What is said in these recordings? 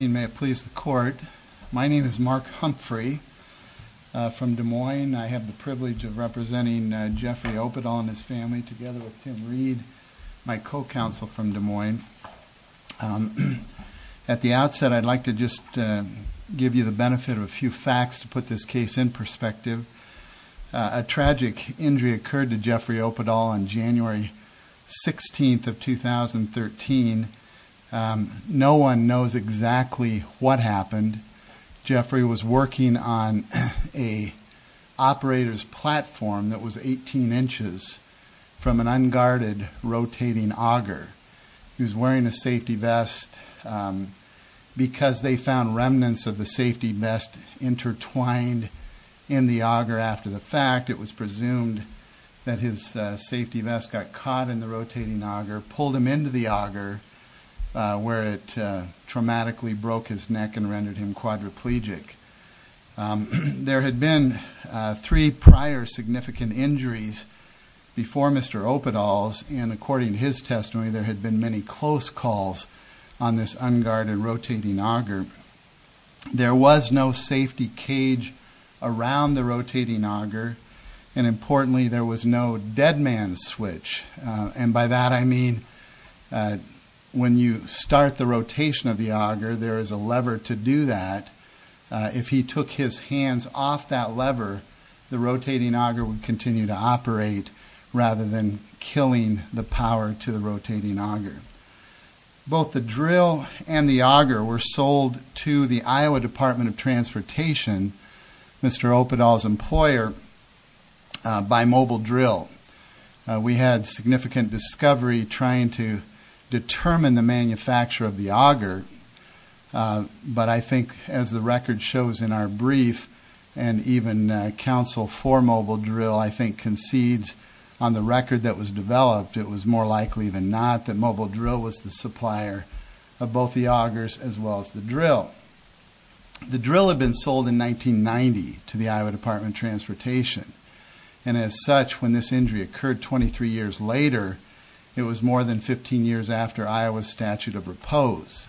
May it please the court, my name is Mark Humphrey from Des Moines. I have the privilege of representing Jeffrey Oppedahl and his family together with Tim Reed, my co-counsel from Des Moines. At the outset I'd like to just give you the benefit of a few facts to put this case in perspective. A tragic injury occurred to Tim Reed. Jeffrey was working on an operator's platform that was 18 inches from an unguarded rotating auger. He was wearing a safety vest because they found remnants of the safety vest intertwined in the auger after the fact. It was presumed that his safety vest got caught in the rotating auger, pulled him into the auger where it traumatically broke his neck and rendered him quadriplegic. There had been three prior significant injuries before Mr. Oppedahl's and according to his testimony there had been many close calls on this unguarded rotating auger. There was no safety cage around the rotating auger and importantly there was no dead man's switch and by that I mean when you start the rotation of the auger there is a lever to do that. If he took his hands off that lever the rotating auger would continue to operate rather than killing the power to the rotating auger. Both the drill and the auger were sold to the Iowa Department of Transportation, Mr. Oppedahl's employer, by Mobile Drill. We had significant discovery trying to determine the manufacturer of the auger but I think as the record shows in our brief and even counsel for Mobile Drill I think concedes on the record that was developed it was more likely than not that Mobile Drill was the supplier of both the augers as well as the drill. The drill had been sold in 1990 to the Iowa Department of Transportation and as such when this injury occurred 23 years later it was more than 15 years after Iowa's statute of repose.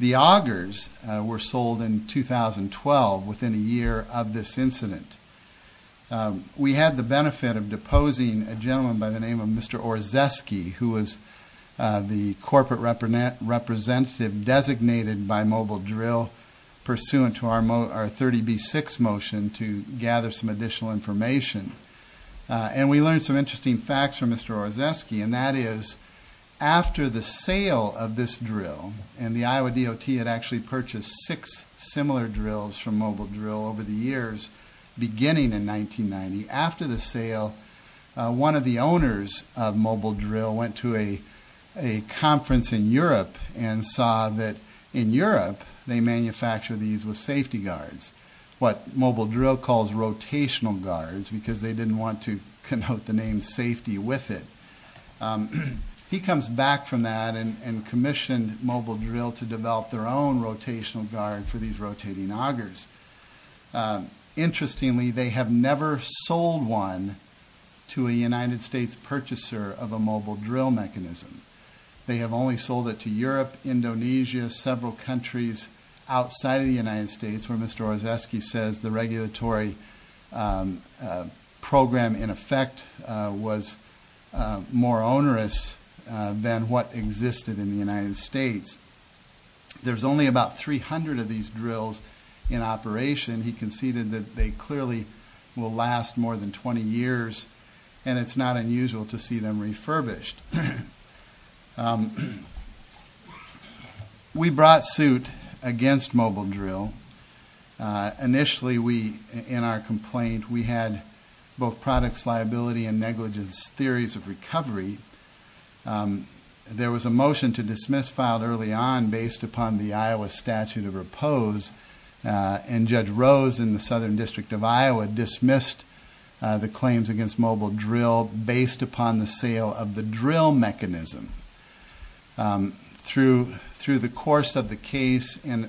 The augers were sold in 2012 within a year of this incident. We had the benefit of deposing a gentleman by the name of Mr. Orzeski who was the corporate representative designated by Mobile Drill pursuant to our 30B6 motion to gather some additional information. We learned some interesting facts from Mr. Orzeski and that is after the sale of this drill and the Iowa DOT had actually purchased six similar drills from Mobile Drill over the years beginning in 1990, after the sale one of the owners of Mobile Drill went to a conference in Europe and saw that in Europe they manufacture these with safety guards what Mobile Drill calls rotational guards because they didn't want to connote the name safety with it. He comes back from that and commissioned Mobile Drill to develop their own rotational guard for these rotating augers. Interestingly they have never sold one to a United States purchaser of a Mobile Drill mechanism. They have only sold it to Europe, Indonesia, several countries outside of the United States where Mr. Orzeski says the regulatory program in effect was more onerous than what existed in the United States. There's only about 300 of these drills in operation. He conceded that they clearly will last more than 20 years and it's not unusual to see them refurbished. We brought suit against Mobile Drill. Initially in our complaint we had both products liability and negligence theories of recovery. There was a motion to dismiss filed early on based upon the Iowa statute of repose and Judge Rose in the Southern District of Iowa dismissed the claims against Mobile Drill based upon the sale of the drill mechanism. Through the course of the case and the sale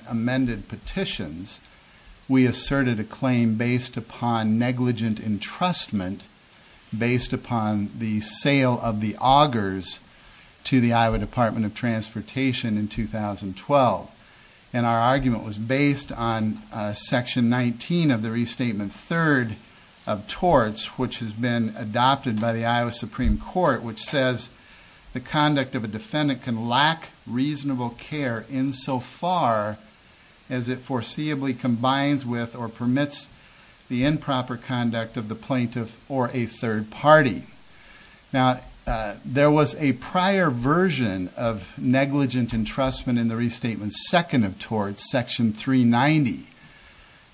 of the augers to the Iowa Department of Transportation in 2012 and our argument was based on section 19 of the restatement third of torts which has been adopted by the Iowa Supreme Court which says the conduct of a defendant can lack reasonable care insofar as it foreseeably combines with or permits the improper conduct of the plaintiff or a third party. Now there was a prior version of negligent entrustment in the restatement second of torts section 390.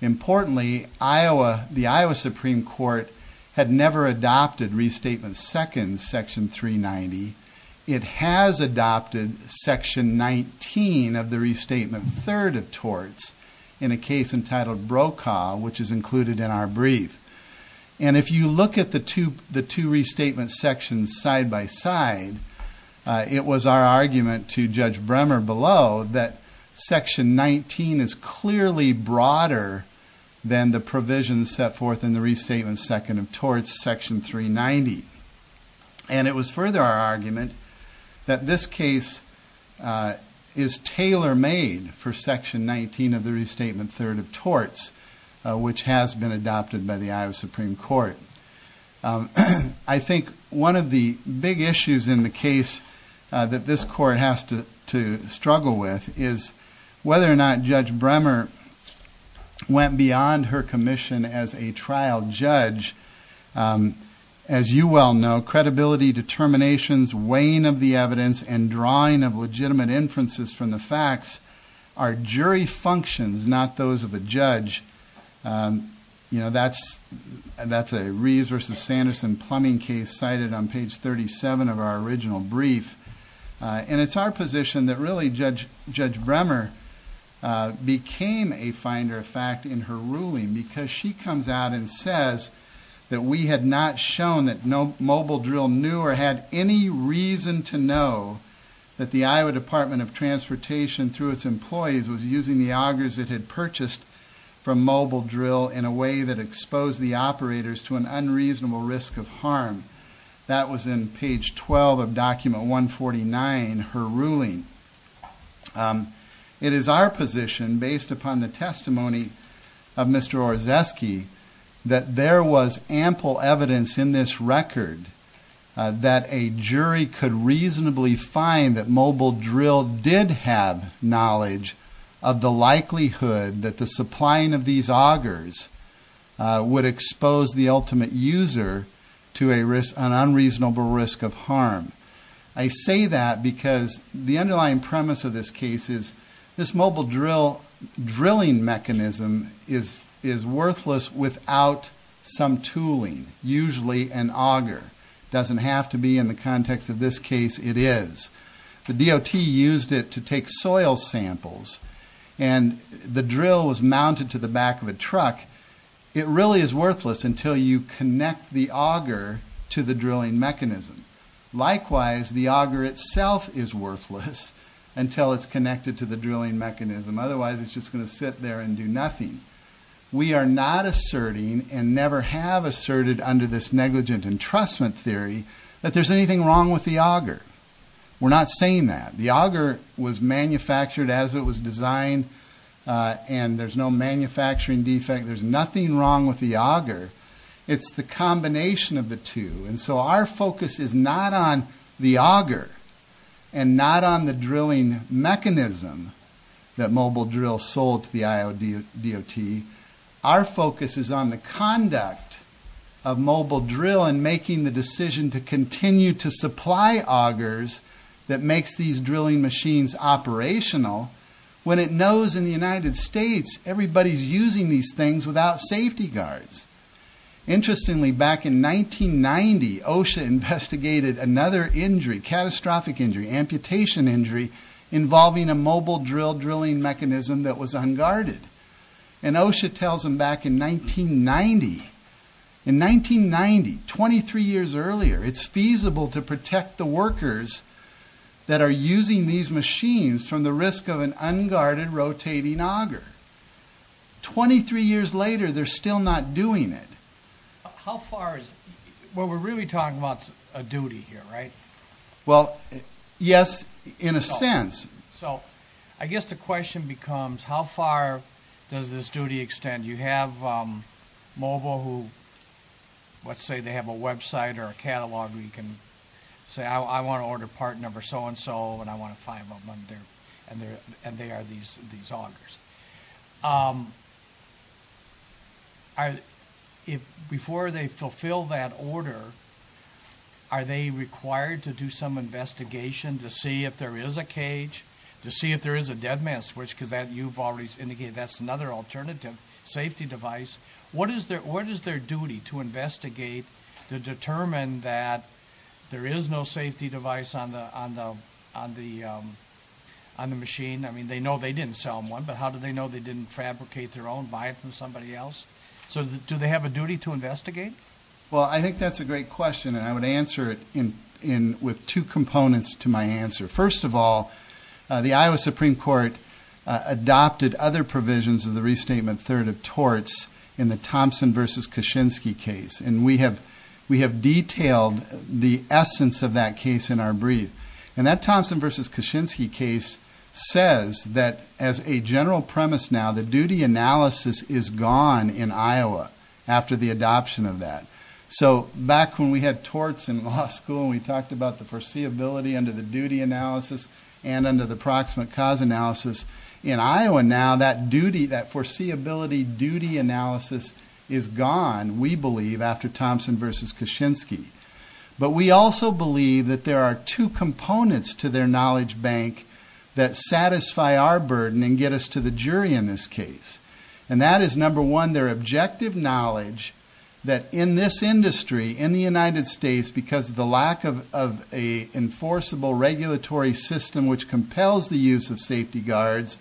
Importantly Iowa the Iowa Supreme Court had never adopted restatement second section 390. It has adopted section 19 of the restatement third of torts in a case entitled Brokaw which is the two restatement sections side-by-side. It was our argument to Judge Bremer below that section 19 is clearly broader than the provisions set forth in the restatement second of torts section 390 and it was further our argument that this case is tailor-made for section 19 of the restatement third of torts which has been adopted by the Iowa Supreme Court. I think one of the big issues in the case that this court has to struggle with is whether or not Judge Bremer went beyond her commission as a trial judge. As you well know credibility, determinations, weighing of the those of a judge you know that's that's a Reeves versus Sanderson plumbing case cited on page 37 of our original brief and it's our position that really Judge Bremer became a finder of fact in her ruling because she comes out and says that we had not shown that no mobile drill knew or had any reason to know that the Iowa Department of Transportation through its employees was using the augers it had purchased from mobile drill in a way that exposed the operators to an unreasonable risk of harm. That was in page 12 of document 149 her ruling. It is our position based upon the testimony of Mr. Orzeski that there was ample evidence in this record that a jury could reasonably find that mobile drill did have knowledge of the likelihood that the supplying of these augers would expose the ultimate user to a risk an unreasonable risk of harm. I say that because the underlying premise of this case is this mobile drill drilling mechanism is is worthless without some tooling usually an auger doesn't have to be in the context of this case it is. The DOT used it to take soil samples and the drill was mounted to the back of a truck it really is worthless until you connect the auger to the drilling mechanism. Likewise the auger itself is worthless until it's connected to the drilling mechanism otherwise it's just going to sit there and do nothing. We are not asserting and never have asserted under this negligent entrustment theory that there's anything wrong with the auger. We're not saying that the auger was manufactured as it was designed and there's no manufacturing defect there's nothing wrong with the auger it's the combination of the two and so our focus is not on the auger and not on the drilling mechanism that mobile drill sold to the IOD DOT our focus is on the conduct of mobile drill and making the decision to continue to supply augers that makes these drilling machines operational when it knows in the United States everybody's using these things without safety guards. Interestingly back in 1990 OSHA investigated another injury catastrophic injury amputation injury involving a mobile drill drilling mechanism that was unguarded and OSHA tells them back in 1990 in 1990 23 years earlier it's feasible to protect the workers that are using these machines from the risk of an unguarded rotating auger. 23 years later they're still not doing it. How far is what we're really talking about a duty here right? Well yes in a sense. So I guess the question becomes how far does this duty extend you have mobile who let's say they have a website or a catalog we can say I want to order part number so-and-so and I want to find one there and there and they are these these augers. If before they fulfill that order are they required to do some investigation to see if there is a cage to see if there is a dead man's switch because that you've already indicated that's another alternative safety device. What is their what is their duty to investigate to determine that there is no safety device on the on the on the on the machine I mean they know they didn't sell one but how do they know they didn't fabricate their own buy it from somebody else so do they have a duty to investigate? Well I think that's a great question and I would answer it in in with two components to my answer. First of all the Iowa Supreme Court adopted other provisions of the restatement third of torts in the Thompson versus Kaczynski case and we have we have detailed the essence of that case in our brief and that Thompson versus Kaczynski case says that as a general premise now the duty analysis is gone in Iowa after the adoption of that. So back when we had torts in law school and we talked about the foreseeability under the duty analysis and under the proximate cause analysis in Iowa now that duty that foreseeability duty analysis is gone we believe after Thompson versus Kaczynski but we also believe that there are two components to their knowledge bank that satisfy our burden and get us to the jury in this case and that is number one their objective knowledge that in this industry in the United States because the lack of a enforceable regulatory system which compels the use of safety guards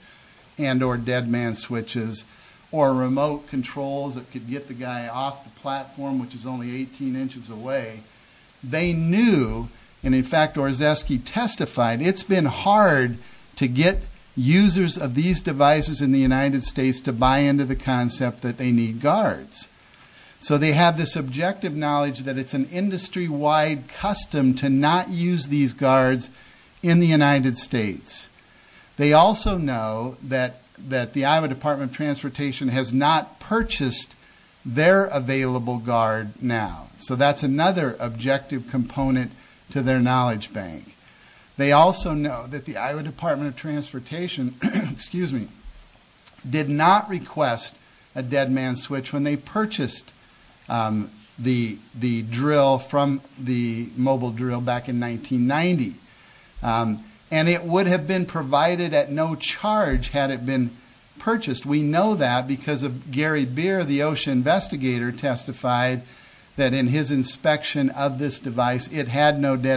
and or dead man switches or remote controls that could get the guy off the platform which is only 18 inches away they knew and in fact Orzeski testified it's been hard to get users of these devices in the United States to buy into the concept that they need guards so they have this objective knowledge that it's an industry-wide custom to not use these guards in the United States they also know that that the Iowa Department of Transportation has not purchased their available guard now so that's another objective component to their knowledge they also know that the Iowa Department of Transportation excuse me did not request a dead man switch when they purchased the the drill from the mobile drill back in 1990 and it would have been provided at no charge had it been purchased we know that because of Gary beer the dead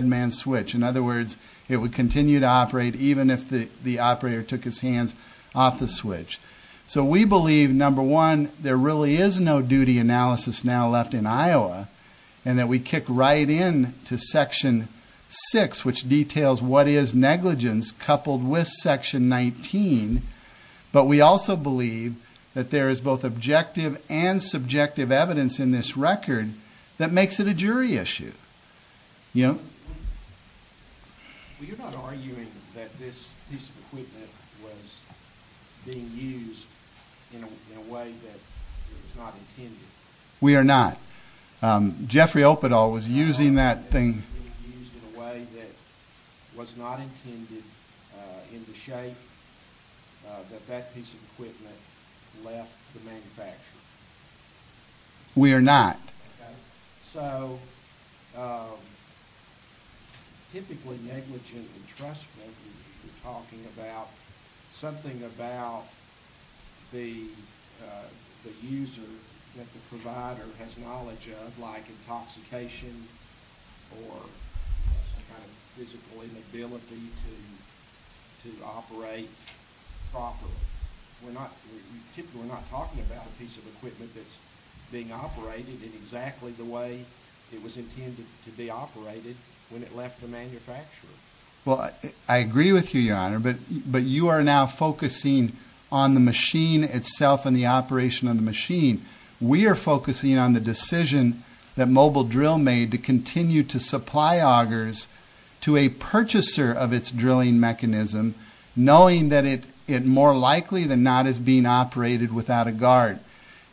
man switch in other words it would continue to operate even if the the operator took his hands off the switch so we believe number one there really is no duty analysis now left in Iowa and that we kick right in to section 6 which details what is negligence coupled with section 19 but we also believe that there is both objective and subjective evidence in this record that makes it a jury issue you know we are not Jeffrey Open all was using that thing in a way that was not intended in the shape that that piece of equipment left the manufacturer we are not so typically negligent entrustment talking about something about the user that physical inability to operate properly we're not talking about a piece of equipment that's being operated in exactly the way it was intended to be operated when it left the manufacturer well I agree with you your honor but but you are now focusing on the machine itself and the operation on the machine we are focusing on the decision that mobile drill made to continue to supply augers to a purchaser of its drilling mechanism knowing that it it more likely than not is being operated without a guard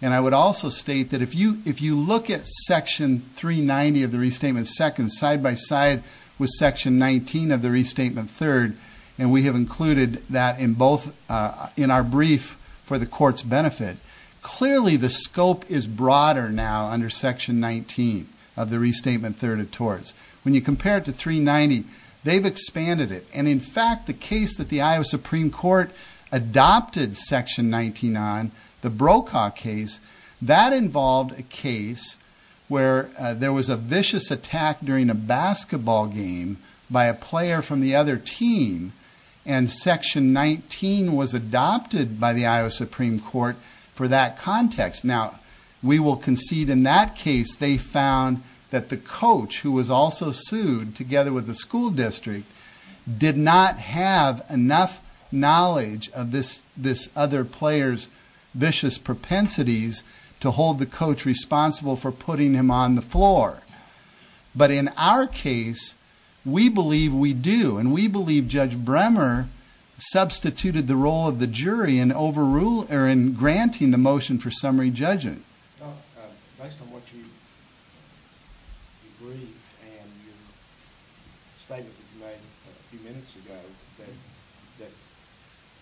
and I would also state that if you if you look at section 390 of the restatement second side-by-side with section 19 of the restatement third and we have included that in both in our brief for the court's benefit clearly the scope is broader now under section 19 of the restatement third of tours when you compare it to 390 they've expanded it and in fact the case that the Iowa Supreme Court adopted section 99 the brokaw case that involved a case where there was a vicious attack during a basketball game by a player from the other team and section 19 was adopted by the Iowa Supreme Court for that context now we will concede in that case they found that the coach who was also sued together with the school district did not have enough knowledge of this this other players vicious propensities to hold the coach responsible for putting him on the floor but in our case we believe we do and we believe judge Bremer substituted the role of the jury and overruled or in granting the motion for summary judgment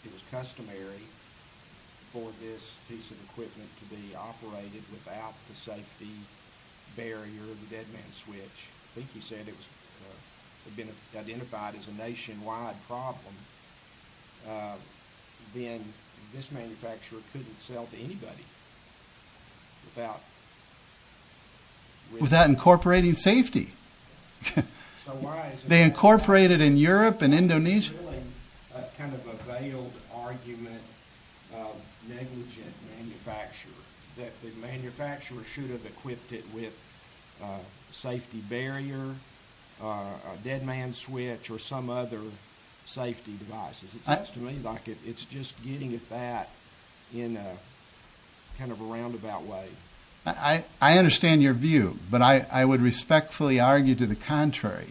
it was customary for this piece of equipment to be operated without the safety barrier of the dead man's switch I think he said it was identified as a nationwide problem then this manufacturer couldn't sell to anybody without incorporating safety they incorporated in Europe and Indonesia kind of a veiled argument negligent manufacturer that the manufacturer should have equipped it with safety barrier a dead man's switch or some other safety devices it's to me like it's just getting at that in a kind of a roundabout way I I understand your view but I I would respectfully argue to the contrary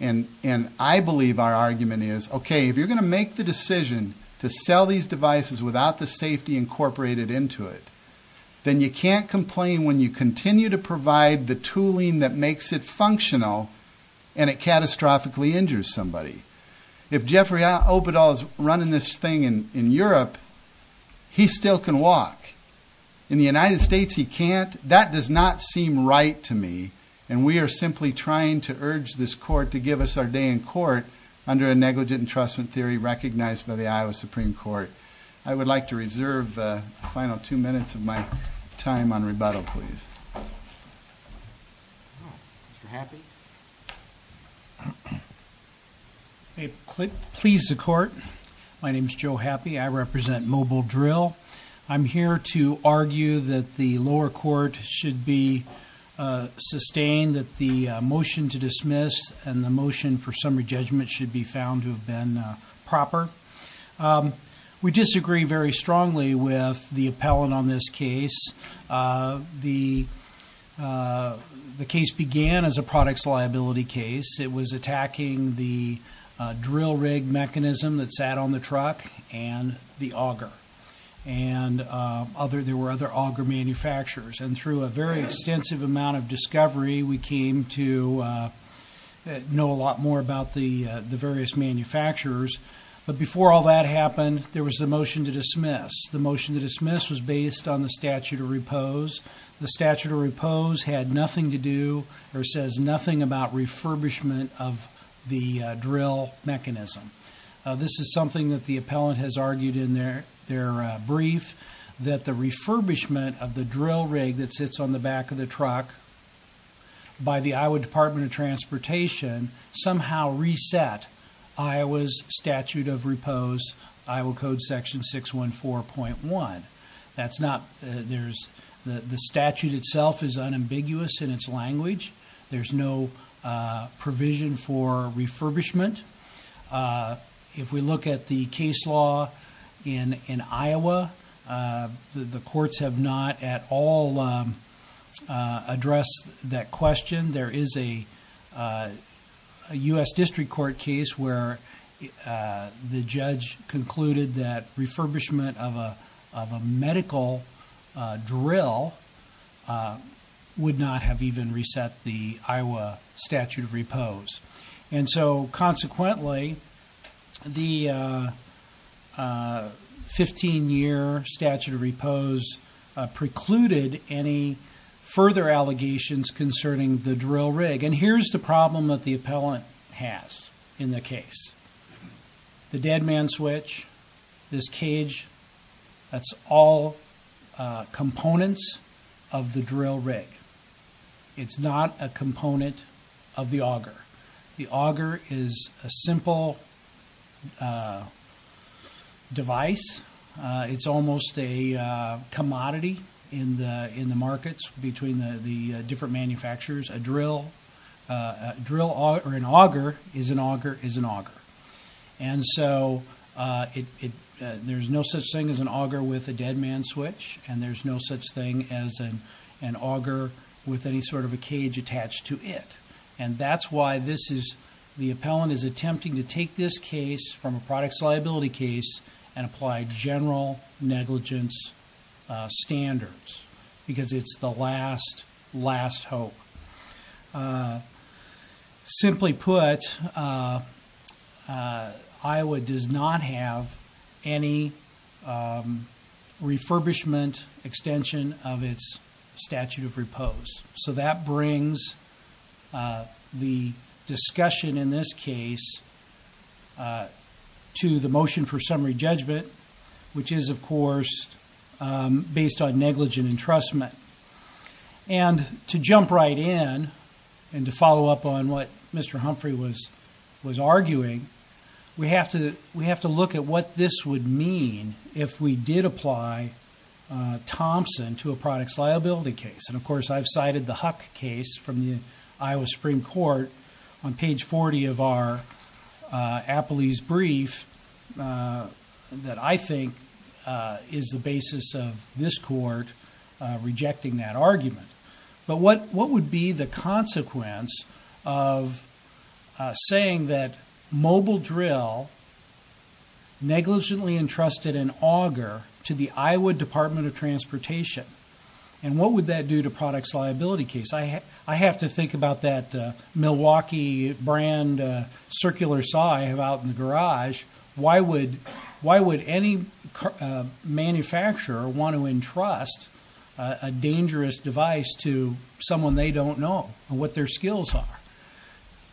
and and I believe our argument is okay if you're going to make the decision to sell these devices without the safety incorporated into it then you can't complain when you continue to provide the tooling that makes it functional and it catastrophically injures somebody if Jeffrey I hope it all is running this thing in in Europe he still can walk in the United States he can't that does not seem right to me and we are simply trying to urge this court to give us our day in court under a negligent entrustment theory recognized by the Iowa Supreme Court I would like to reserve final two minutes of my time on rebuttal please a clip please the court my name is Joe happy I represent mobile drill I'm here to argue that the lower court should be sustained that the motion to dismiss and the motion for we disagree very strongly with the appellant on this case the the case began as a products liability case it was attacking the drill rig mechanism that sat on the truck and the auger and other there were other auger manufacturers and through a very extensive amount of discovery we to know a lot more about the the various manufacturers but before all that happened there was the motion to dismiss the motion to dismiss was based on the statute of repose the statute of repose had nothing to do or says nothing about refurbishment of the drill mechanism this is something that the appellant has argued in their their brief that the refurbishment of the truck by the Iowa Department of Transportation somehow reset I was statute of repose Iowa Code section six one four point one that's not there's the the statute itself is unambiguous in its language there's no provision for refurbishment if we look at the case law in in Iowa the courts have not at all address that question there is a US District Court case where the judge concluded that refurbishment of a medical drill would not have even reset the Iowa statute of pose precluded any further allegations concerning the drill rig and here's the problem that the appellant has in the case the dead man switch this cage that's all components of the drill rig it's not a component of the auger the auger is a simple device it's almost a commodity in the in the markets between the different manufacturers a drill drill or an auger is an auger is an auger and so it there's no such thing as an auger with a dead man switch and there's no such thing as an auger with any sort of a cage attached to it and that's why this is the appellant is attempting to take this case from a products liability case and apply general negligence standards because it's the last last hope simply put Iowa does not have any refurbishment extension of its statute of repose so that brings the discussion in this case to the motion for summary judgment which is of entrustment and to jump right in and to follow up on what mr. Humphrey was was arguing we have to we have to look at what this would mean if we did apply Thompson to a products liability case and of course I've cited the Huck case from the Iowa Supreme Court on page 40 of our Apple ease brief that I think is the basis of this court rejecting that argument but what what would be the consequence of saying that mobile drill negligently entrusted an auger to the Iowa Department of Transportation and what would that do to products liability case I have to think about that Milwaukee brand circular saw I have out in the garage why would why would any manufacturer want to entrust a dangerous device to someone they don't know what their skills are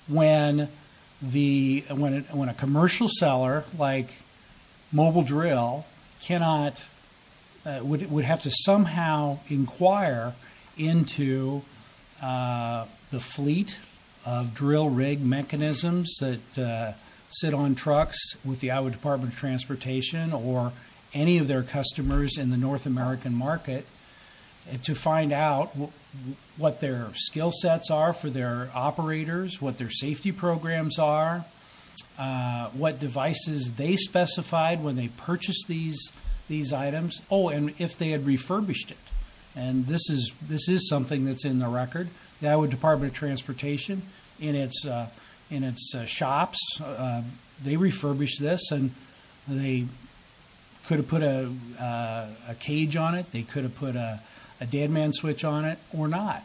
when the when it when a commercial seller like mobile drill cannot would have to somehow inquire into the fleet of drill rig mechanisms that sit on trucks with the Iowa Department of Transportation or any of their customers in the North American market and to find out what their skill sets are for their operators what their safety programs are what devices they specified when they purchased these these items oh and if they had refurbished it and this is this is something that's in the record the Iowa Department of Transportation in its in its shops they refurbish this and they could have put a cage on it they could have put a dead man switch on it or not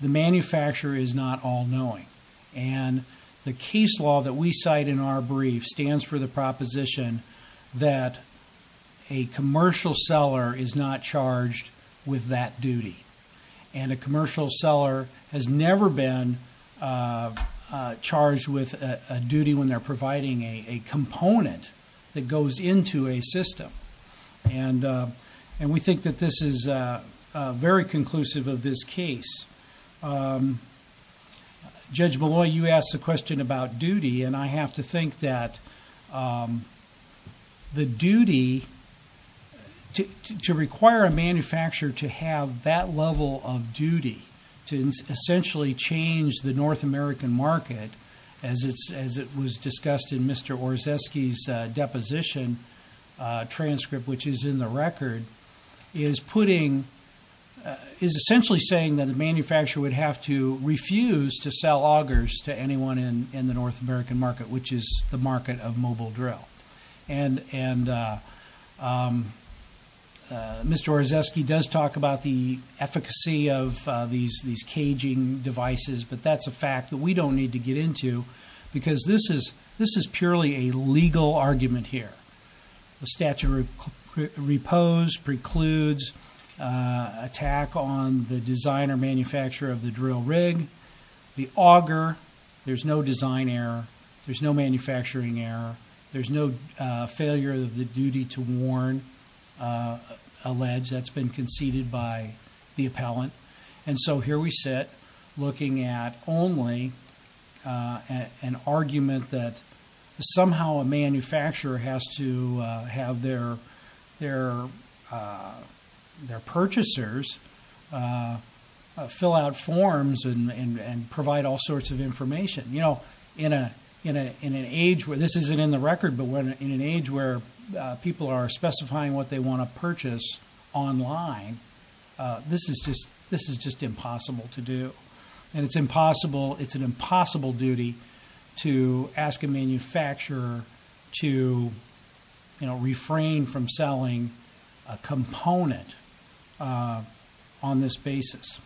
the manufacturer is not all-knowing and the case law that we cite in our brief stands for the proposition that a commercial seller is not charged with that duty and a commercial seller has never been charged with a duty when they're providing a component that goes into a system and and we think that this is a very conclusive of this case judge below you asked the question about duty and I have to think that the duty to require a manufacturer to have that level of duty to essentially change the North American market as it's as it was discussed in mr. or zesky's transcript which is in the record is putting is essentially saying that the manufacturer would have to refuse to sell augers to anyone in in the North American market which is the market of mobile drill and and mr. or zesky does talk about the efficacy of these these caging devices but that's a fact that we don't need to get into because this is this is purely a legal argument here the statute repose precludes attack on the designer manufacturer of the drill rig the auger there's no design error there's no manufacturing error there's no failure of the duty to warn alleged that's been conceded by the appellant and so here we sit looking at only an argument that somehow a manufacturer has to have their their their purchasers fill out forms and and provide all sorts of information you know in a in an age where this isn't in the record but when in an age people are specifying what they want to purchase online this is just this is just impossible to do and it's impossible it's an impossible duty to ask a manufacturer to you know refrain from selling a component on this basis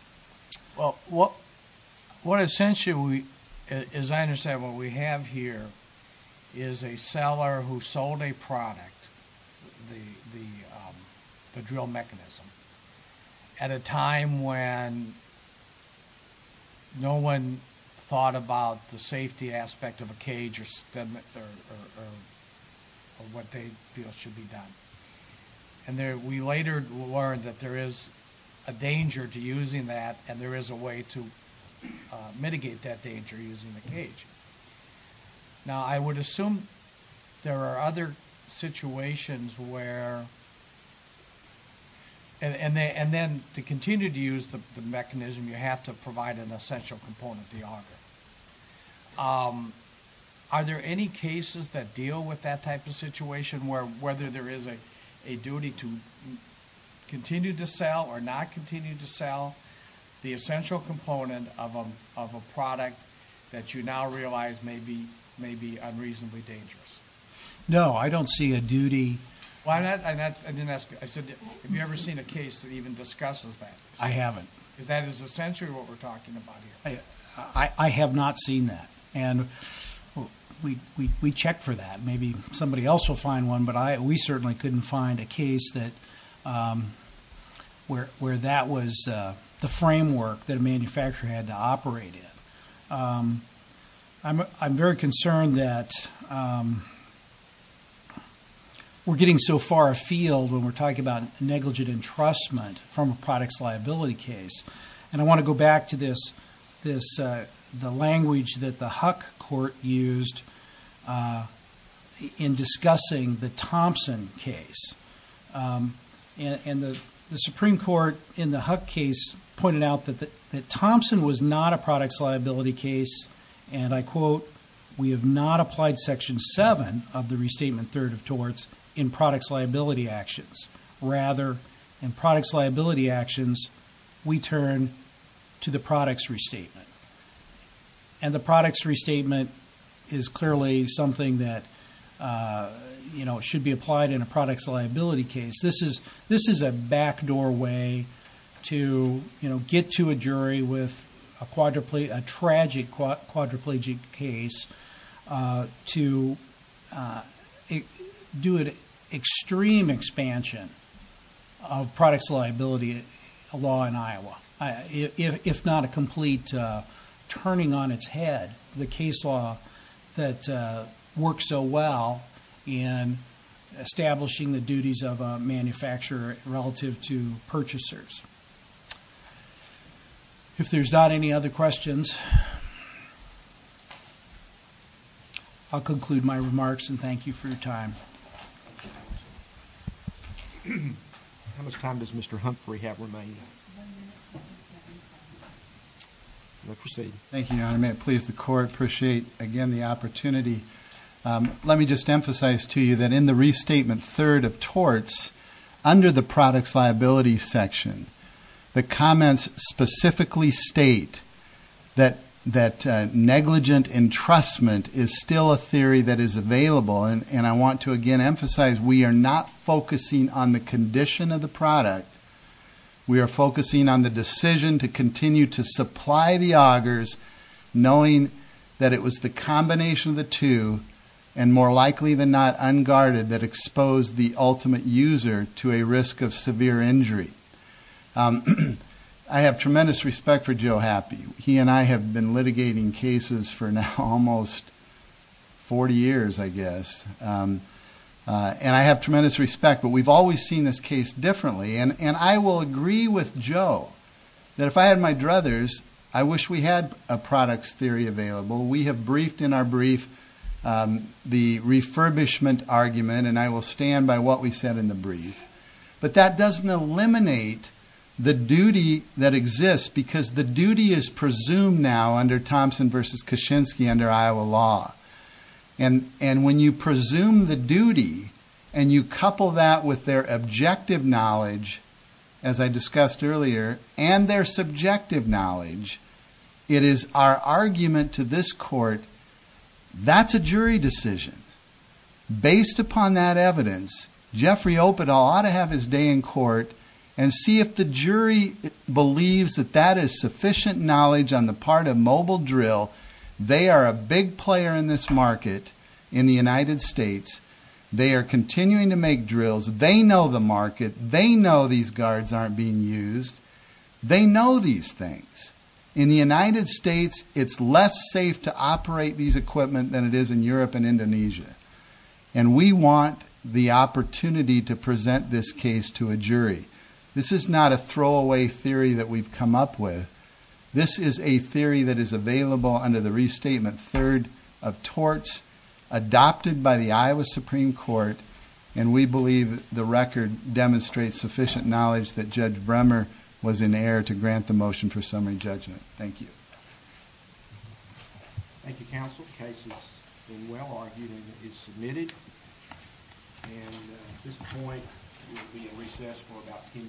well what what essentially is I understand what we have here is a seller who sold a product the drill mechanism at a time when no one thought about the safety aspect of a cage or stem or what they feel should be done and there we later learned that there is a danger to using that and there is a way to mitigate that danger using the cage now I would assume there are other situations where and and they and then to continue to use the mechanism you have to provide an essential component the auger are there any cases that deal with that type of situation where whether there is a a duty to continue to sell or not continue to sell the essential component of a product that you now realize may be may be unreasonably dangerous no I don't see a duty why not and that's I didn't ask I said have you ever seen a case that even discusses that I haven't because that is essentially what we're talking about here I have not seen that and we we checked for that maybe somebody else will find one but I we certainly couldn't find a case that where where that was the framework that a manufacturer had to operate it I'm very concerned that we're getting so far afield when we're talking about negligent entrustment from a product's liability case and I language that the Huck court used in discussing the Thompson case and the Supreme Court in the Huck case pointed out that that Thompson was not a product's liability case and I quote we have not applied section 7 of the restatement third of torts in products liability actions rather in and the products restatement is clearly something that you know it should be applied in a product's liability case this is this is a backdoor way to you know get to a jury with a quadruple a tragic quadriplegic case to do it extreme expansion of products liability a law in Iowa if not a its head the case law that works so well in establishing the duties of a manufacturer relative to purchasers if there's not any other questions I'll conclude my remarks and thank you for your time how much time does mr. Humphrey have remain proceed thank you your honor may it please the court appreciate again the opportunity let me just emphasize to you that in the restatement third of torts under the products liability section the comments specifically state that negligent entrustment is still a theory that is available and I want to again emphasize we are not focusing on the condition of the product we are focusing on the decision to continue to supply the augers knowing that it was the combination of the two and more likely than not unguarded that exposed the ultimate user to a risk of severe injury I have tremendous respect for Joe happy he and I have been litigating cases for now almost 40 years I guess and I have tremendous respect but we've always seen this case differently and and I will agree with Joe that if I had my druthers I wish we had a products theory available we have briefed in our brief the refurbishment argument and I will stand by what we said in the brief but that doesn't eliminate the duty that exists because the duty is presumed now under Thompson versus Koshinsky under Iowa law and and when you presume the duty and you couple that with their objective knowledge as I discussed earlier and their subjective knowledge it is our argument to this court that's a jury decision based upon that is sufficient knowledge on the part of mobile drill they are a big player in this market in the United States they are continuing to make drills they know the market they know these guards aren't being used they know these things in the United States it's less safe to operate these equipment than it is in Europe and Indonesia and we want the opportunity to present this case to a jury this is not a throwaway theory that we've come up with this is a theory that is available under the restatement third of torts adopted by the Iowa Supreme Court and we believe the record demonstrates sufficient knowledge that judge Bremer was in air to grant the motion for recess for about